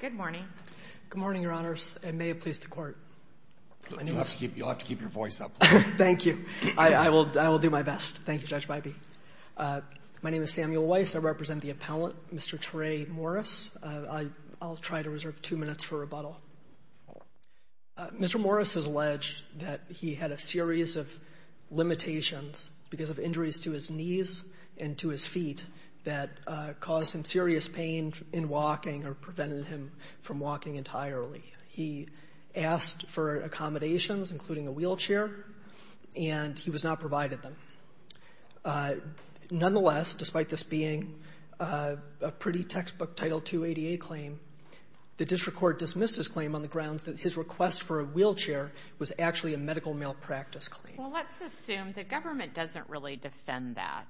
Good morning, Your Honor. I represent the appellant, Mr. Tray Morris. I'll try to reserve two minutes for rebuttal. Mr. Morris has alleged that he had a series of limitations because of injuries to his knees and to his feet that caused him serious pain in walking or prevented him from walking entirely. He asked for accommodations, including a wheelchair, and he was not provided them. Nonetheless, despite this being a pretty textbook Title II ADA claim, the district court dismissed his claim on the grounds that his request for a wheelchair was actually a medical malpractice claim. Well, let's assume the government doesn't really defend that.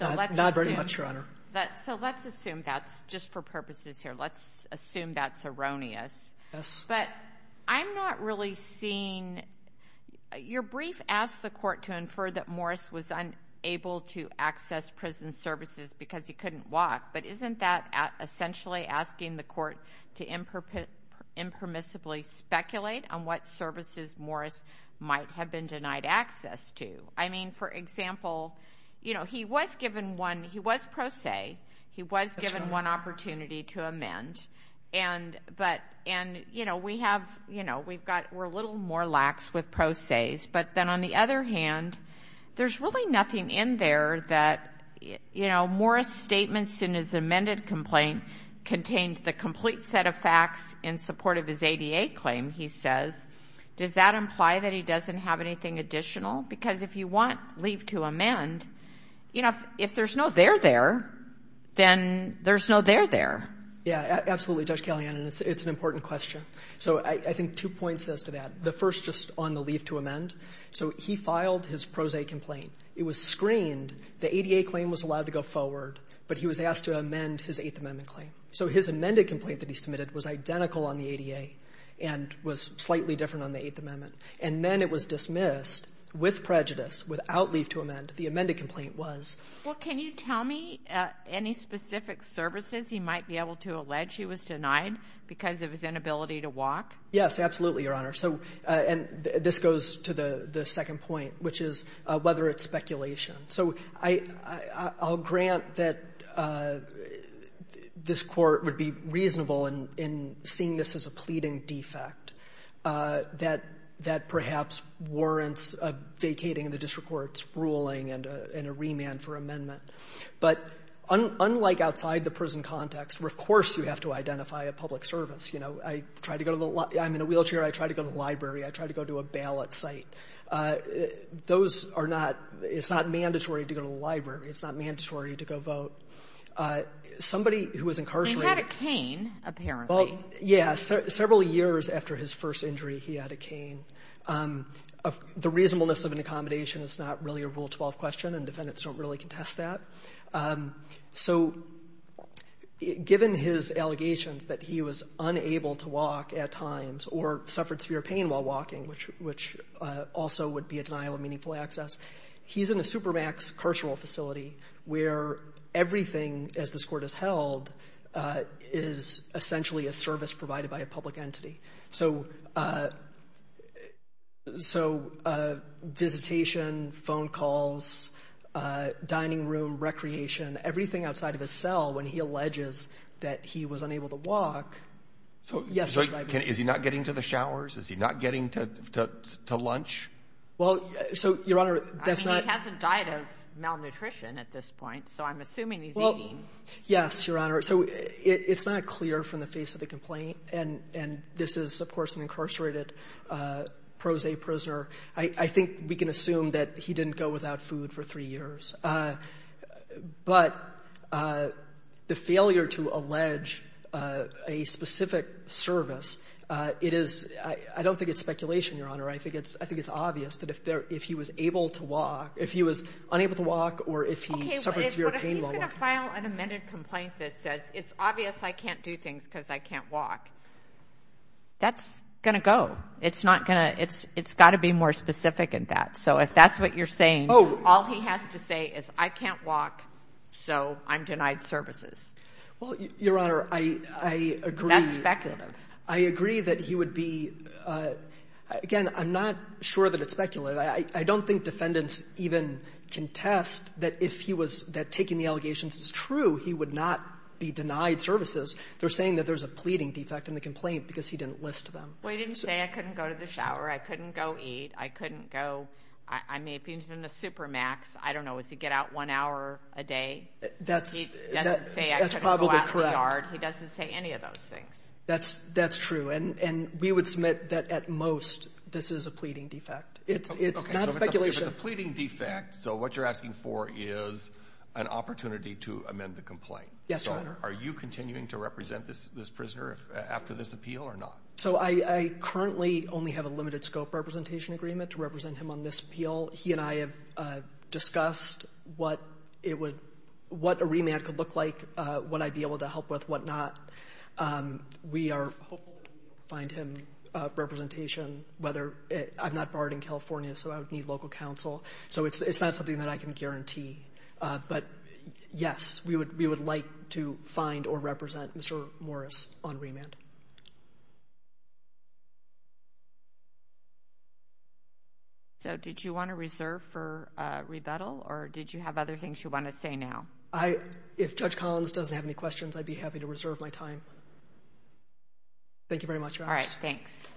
Not very much, Your Honor. So let's assume that's, just for purposes here, let's assume that's erroneous. Yes. But I'm not really seeing, your brief asked the court to infer that Morris was unable to access prison services because he couldn't walk, but isn't that essentially asking the I mean, for example, you know, he was given one, he was pro se, he was given one opportunity to amend, and, but, and, you know, we have, you know, we've got, we're a little more lax with pro ses, but then on the other hand, there's really nothing in there that, you know, Morris' statements in his amended complaint contained the complete set of facts in support of his ADA claim, he says, does that imply that he doesn't have anything additional? Because if you want leave to amend, you know, if there's no there there, then there's no there there. Yeah, absolutely, Judge Kalyanan, it's an important question. So I think two points as to that. The first just on the leave to amend. So he filed his pro se complaint, it was screened, the ADA claim was allowed to go forward, but he was asked to amend his Eighth Amendment claim. So his amended complaint that he submitted was identical on the ADA and was slightly different on the Eighth Amendment. And then it was dismissed with prejudice, without leave to amend, the amended complaint was. Well, can you tell me any specific services he might be able to allege he was denied because of his inability to walk? Yes, absolutely, Your Honor. So, and this goes to the second point, which is whether it's speculation. So I'll grant that this Court would be reasonable in seeing this as a pleading defect that perhaps warrants a vacating of the district court's ruling and a remand for amendment. But unlike outside the prison context, where, of course, you have to identify a public service, you know, I try to go to the library, I'm in a wheelchair, I try to go to the library, I try to go to a ballot site. Those are not — it's not mandatory to go to the library. It's not mandatory to go vote. Somebody who was incarcerated — He had a cane, apparently. Well, yes. Several years after his first injury, he had a cane. The reasonableness of an accommodation is not really a Rule 12 question, and defendants don't really contest that. So given his allegations that he was unable to walk at times or suffered severe pain while walking, which also would be a denial of meaningful access, he's in a supermaxed carceral facility where everything, as this Court has held, is essentially a service provided by a public entity. So visitation, phone calls, dining room, recreation, everything outside of his cell, when he alleges that he was unable to walk — So is he not getting to the showers? Is he not getting to lunch? Well, so, Your Honor, that's not — I mean, he hasn't died of malnutrition at this point, so I'm assuming he's eating. Well, yes, Your Honor. So it's not clear from the face of the complaint, and this is, of course, an incarcerated pro se prisoner. I think we can assume that he didn't go without food for three years. But the failure to allege a specific service, it is — I don't think it's speculation, Your Honor. I think it's — I think it's obvious that if he was able to walk — if he was unable to walk or if he suffered severe pain while walking — Okay. But if he's going to file an amended complaint that says it's obvious I can't do things because I can't walk, that's going to go. It's not going to — it's got to be more specific than that. So if that's what you're saying, all he has to say is, I can't walk, so I'm denied services. Well, Your Honor, I agree — That's speculative. I agree that he would be — again, I'm not sure that it's speculative. I don't think defendants even contest that if he was — that taking the allegations is true, he would not be denied services. They're saying that there's a pleading defect in the complaint because he didn't list them. Well, he didn't say I couldn't go to the shower, I couldn't go eat, I couldn't go — I mean, if he was in a supermax, I don't know, is he get out one hour a day? That's — He doesn't say I couldn't go out in the yard. He doesn't say any of those things. That's true. And we would submit that at most this is a pleading defect. It's not speculation. But the pleading defect, so what you're asking for is an opportunity to amend the complaint. Yes, Your Honor. Are you continuing to represent this prisoner after this appeal or not? So I currently only have a limited scope representation agreement to represent him on this appeal. He and I have discussed what it would — what a remand could look like, what I'd be able to help with, what not. We are hoping to find him representation, whether — I'm not barred in California, so I would need local counsel. So it's not something that I can guarantee. But, yes, we would like to find or represent Mr. Morris on remand. Thank you. So did you want to reserve for rebuttal, or did you have other things you want to say now? I — if Judge Collins doesn't have any questions, I'd be happy to reserve my time. Thank you very much, Your Honor. All right. Thanks.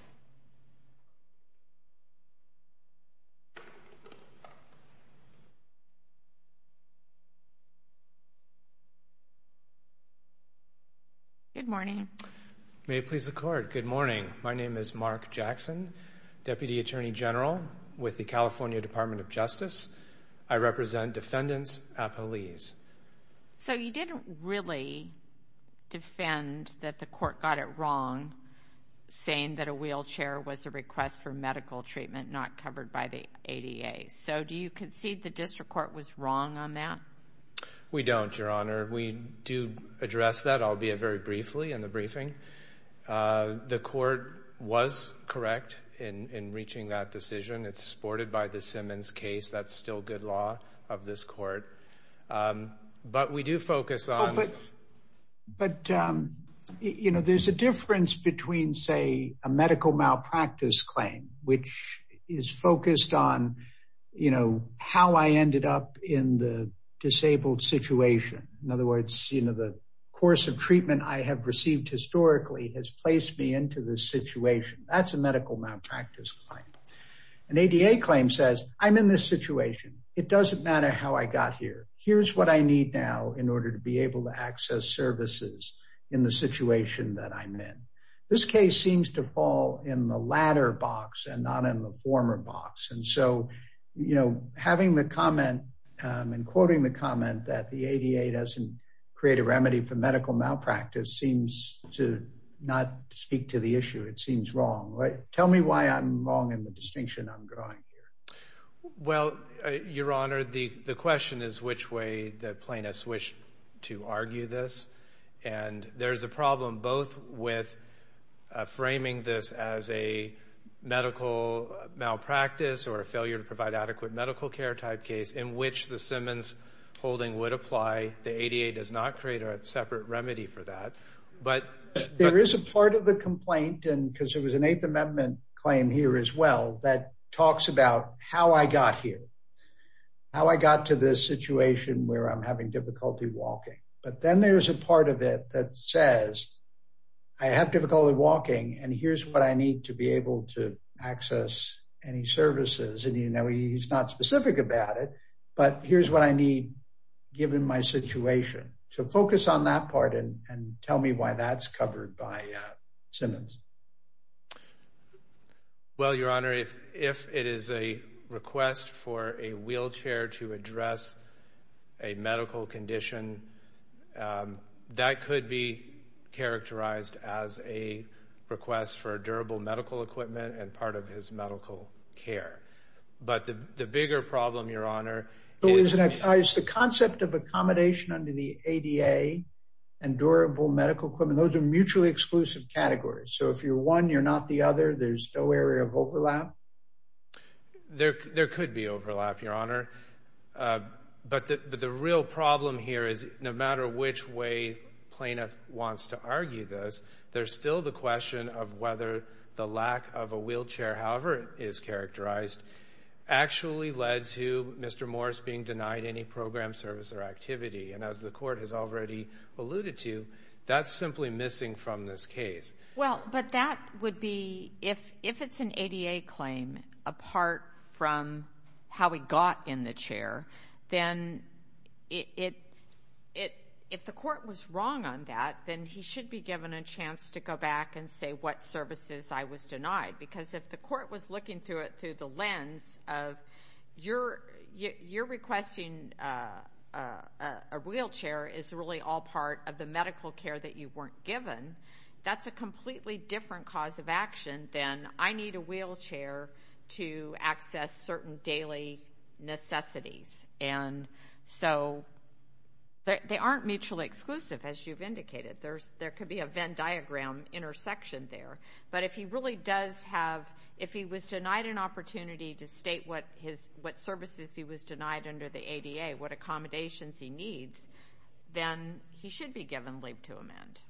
Good morning. May it please the Court. Good morning. My name is Mark Jackson, Deputy Attorney General with the California Department of Justice. I represent defendants appellees. So you didn't really defend that the court got it wrong saying that a wheelchair was a request for medical treatment not covered by the ADA. So do you concede the district court was wrong on that? We don't, Your Honor. We do address that, albeit very briefly, in the briefing. The court was correct in reaching that decision. It's supported by the Simmons case. That's still good law of this court. But we do focus on — Oh, but — but, you know, there's a difference between, say, a medical malpractice claim, which is focused on, you know, how I ended up in the disabled situation. In other words, you know, the course of treatment I have received historically has placed me into this situation. That's a medical malpractice claim. An ADA claim says, I'm in this situation. It doesn't matter how I got here. Here's what I need now in order to be able to access services in the situation that I'm in. This case seems to fall in the latter box and not in the former box. And so, you know, having the comment and quoting the comment that the ADA doesn't create a remedy for medical malpractice seems to not speak to the issue. It seems wrong, right? Tell me why I'm wrong in the distinction I'm drawing here. Well, Your Honor, the question is which way the plaintiffs wish to argue this. And there's a problem both with framing this as a medical malpractice or a failure to provide adequate medical care type case in which the Simmons holding would apply. The ADA does not create a separate remedy for that. But there is a part of the complaint and because it was an Eighth Amendment claim here as well that talks about how I got here. How I got to this situation where I'm having difficulty walking. But then there's a part of it that says I have difficulty walking and here's what I need to be able to access any services. And you know, he's not specific about it. But here's what I need given my situation to focus on that part and tell me why that's covered by Simmons. Well, Your Honor, if it is a request for a wheelchair to address a medical condition, that could be characterized as a request for a durable medical equipment and part of his medical care. But the bigger problem, Your Honor, is the concept of accommodation under the ADA and durable medical equipment. Those are mutually exclusive categories. So if you're one, you're not the other. There's no area of overlap. There could be overlap, Your Honor. But the real problem here is no matter which way plaintiff wants to argue this, there's still the question of whether the lack of a wheelchair, however it is characterized, actually led to Mr. Morris being denied any program, service, or activity. And as the Court has already alluded to, that's simply missing from this case. Well, but that would be if it's an ADA claim, apart from how he got in the chair, then if the Court was wrong on that, then he should be given a chance to go back and say what services I was denied. Because if the Court was looking through the lens of you're requesting a wheelchair is really all part of the medical care that you weren't given, that's a completely different cause of action than I need a wheelchair to access certain daily necessities. And so they aren't mutually exclusive, as you've indicated. There could be a Venn diagram intersection there. But if he really does have, if he was denied an opportunity to state what services he was denied under the ADA, what accommodations he needs, then he should be given leave to amend.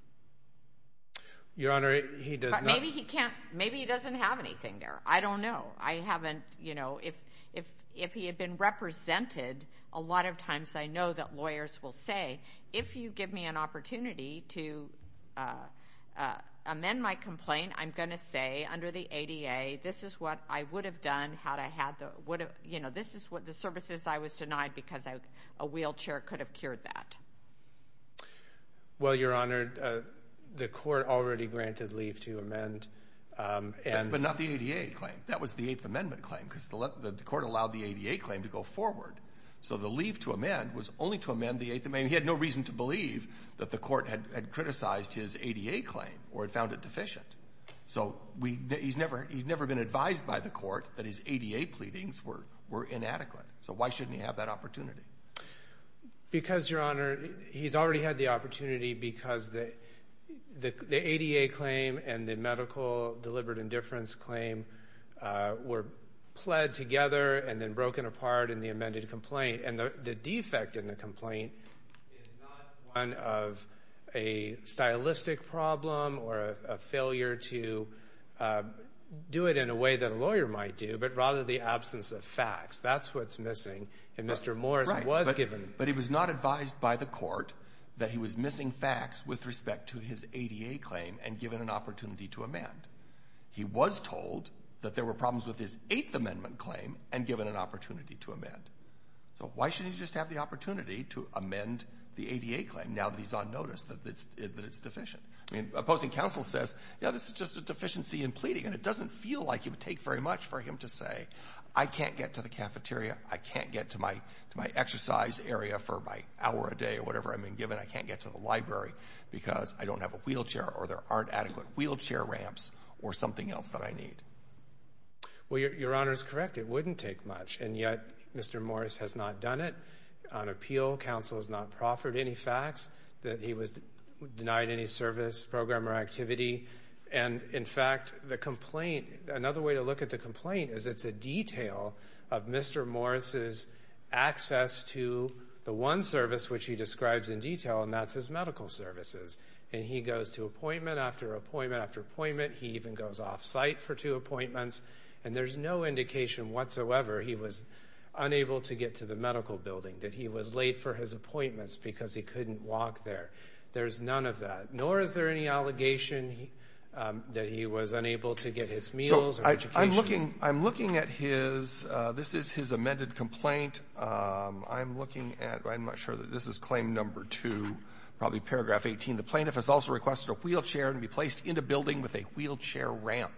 Your Honor, he does not— But maybe he can't, maybe he doesn't have anything there. I don't know. I haven't, you know, if he had been represented, a lot of times I know that lawyers will say, if you give me an opportunity to amend my complaint, I'm going to say under the ADA, this is what I would have done had I had the, you know, this is what the services I was denied because a wheelchair could have cured that. Well, Your Honor, the Court already granted leave to amend. But not the ADA claim. That was the Eighth Amendment claim because the Court allowed the ADA claim to go forward. So the leave to amend was only to amend the Eighth Amendment. He had no reason to believe that the Court had criticized his ADA claim or had found it deficient. So he's never been advised by the Court that his ADA pleadings were inadequate. So why shouldn't he have that opportunity? Because, Your Honor, he's already had the opportunity because the ADA claim and the deliberate indifference claim were pled together and then broken apart in the amended complaint. And the defect in the complaint is not one of a stylistic problem or a failure to do it in a way that a lawyer might do, but rather the absence of facts. That's what's missing. And Mr. Morris was given. But he was not advised by the Court that he was missing facts with respect to his ADA claim and given an opportunity to amend. He was told that there were problems with his Eighth Amendment claim and given an opportunity to amend. So why shouldn't he just have the opportunity to amend the ADA claim now that he's on notice that it's deficient? I mean, opposing counsel says, you know, this is just a deficiency in pleading. And it doesn't feel like it would take very much for him to say, I can't get to the cafeteria. I can't get to my exercise area for my hour a day or whatever I'm being given. I can't get to the library because I don't have a wheelchair or there aren't adequate wheelchair ramps or something else that I need. Well, Your Honor is correct. It wouldn't take much. And yet Mr. Morris has not done it on appeal. Counsel has not proffered any facts that he was denied any service, program or activity. And in fact, the complaint, another way to look at the complaint is it's a detail of Mr. Morris's access to the one service which he describes in detail, and that's his medical services. And he goes to appointment after appointment after appointment. He even goes off-site for two appointments. And there's no indication whatsoever he was unable to get to the medical building, that he was late for his appointments because he couldn't walk there. There's none of that. Nor is there any allegation that he was unable to get his meals or education. I'm looking at his this is his amended complaint. I'm looking at I'm not sure that this is claim number two, probably paragraph 18. The plaintiff has also requested a wheelchair to be placed in a building with a wheelchair ramp.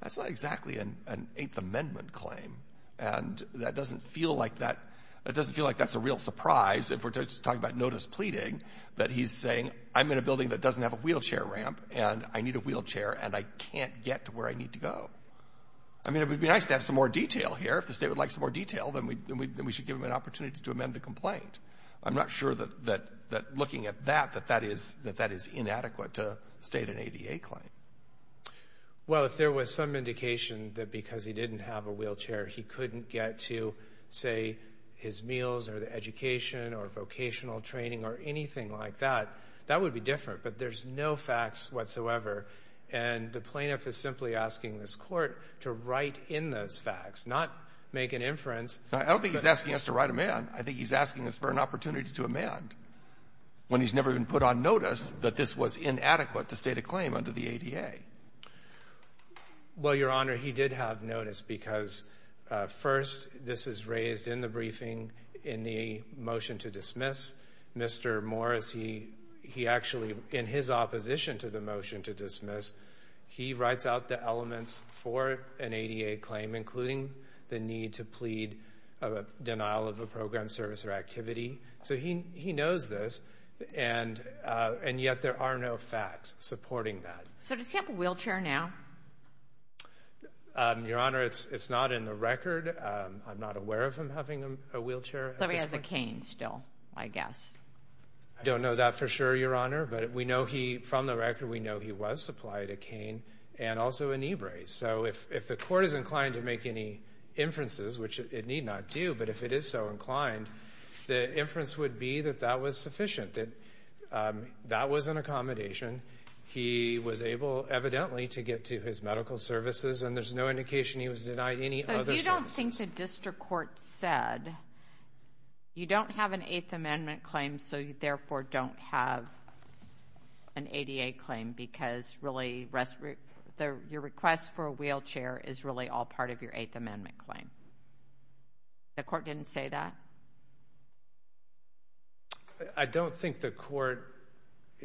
That's not exactly an Eighth Amendment claim. And that doesn't feel like that. It doesn't feel like that's a real surprise if we're just talking about notice pleading that he's saying I'm in a building that doesn't have a wheelchair ramp and I need a wheelchair and I can't get to where I need to go. I mean, it would be nice to have some more detail here. If the state would like some more detail, then we should give him an opportunity to amend the complaint. I'm not sure that that that looking at that, that that is that that is inadequate to state an ADA claim. Well, if there was some indication that because he didn't have a wheelchair, he couldn't get to, say, his meals or the education or vocational training or anything like that, that would be different. But there's no facts whatsoever. And the plaintiff is simply asking this court to write in those facts, not make an inference. I don't think he's asking us to write him in. I think he's asking us for an opportunity to amend when he's never been put on notice that this was inadequate to state a claim under the ADA. Well, Your Honor, he did have notice because first, this is raised in the briefing in the motion to dismiss Mr. Morris. He actually, in his opposition to the motion to dismiss, he writes out the elements for an ADA claim, including the need to plead of a denial of a program, service or activity. So he he knows this. And and yet there are no facts supporting that. So does he have a wheelchair now? Your Honor, it's not in the record. I'm not aware of him having a wheelchair. So he has a cane still, I guess. I don't know that for sure, Your Honor. But we know he from the record, we know he was supplied a cane and also a knee brace. So if if the court is inclined to make any inferences, which it need not do. But if it is so inclined, the inference would be that that was sufficient, that that was an accommodation. He was able, evidently, to get to his medical services. And there's no indication he was denied any. You don't think the district court said you don't have an Eighth Amendment claim, so you therefore don't have an ADA claim because really your request for a wheelchair is really all part of your Eighth Amendment claim. The court didn't say that? I don't think the court,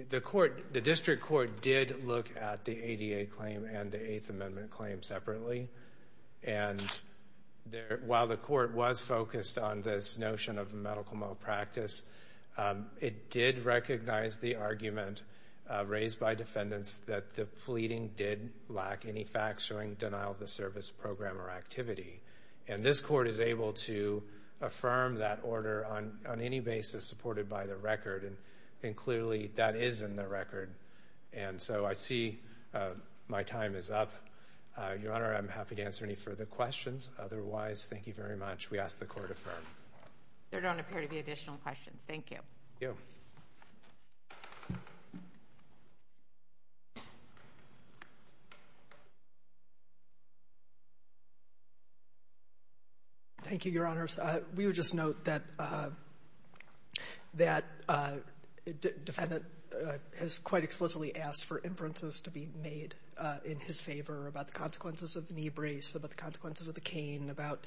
the court, the district court did look at the ADA claim and the Eighth Amendment claim separately. And while the court was focused on this notion of medical malpractice, it did recognize the argument raised by defendants that the pleading did lack any facts showing denial of the service program or activity. And this court is able to affirm that order on any basis supported by the record. And clearly that is in the record. And so I see my time is up. Your Honor, I'm happy to answer any further questions. Otherwise, thank you very much. We ask the court affirm. There don't appear to be additional questions. Thank you. Thank you, Your Honors. We would just note that that defendant has quite explicitly asked for inferences to be made in his favor about the consequences of the knee brace, about the consequences of the cane, about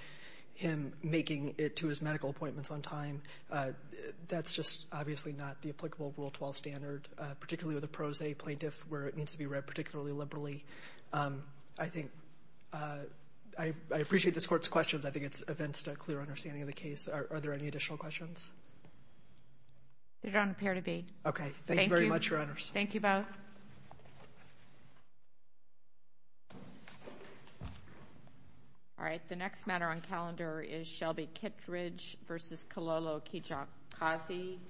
him making it to his medical appointments on time. That's just obviously not the applicable Rule 12 standard, particularly with a pro se plaintiff where it needs to be read particularly liberally. I think I appreciate this court's questions. I think it's events to a clear understanding of the case. Are there any additional questions? There don't appear to be. Okay. Thank you very much, Your Honors. Thank you both. Thank you. All right. The next matter on calendar is Shelby Kittredge v. Kololo Kijokazi.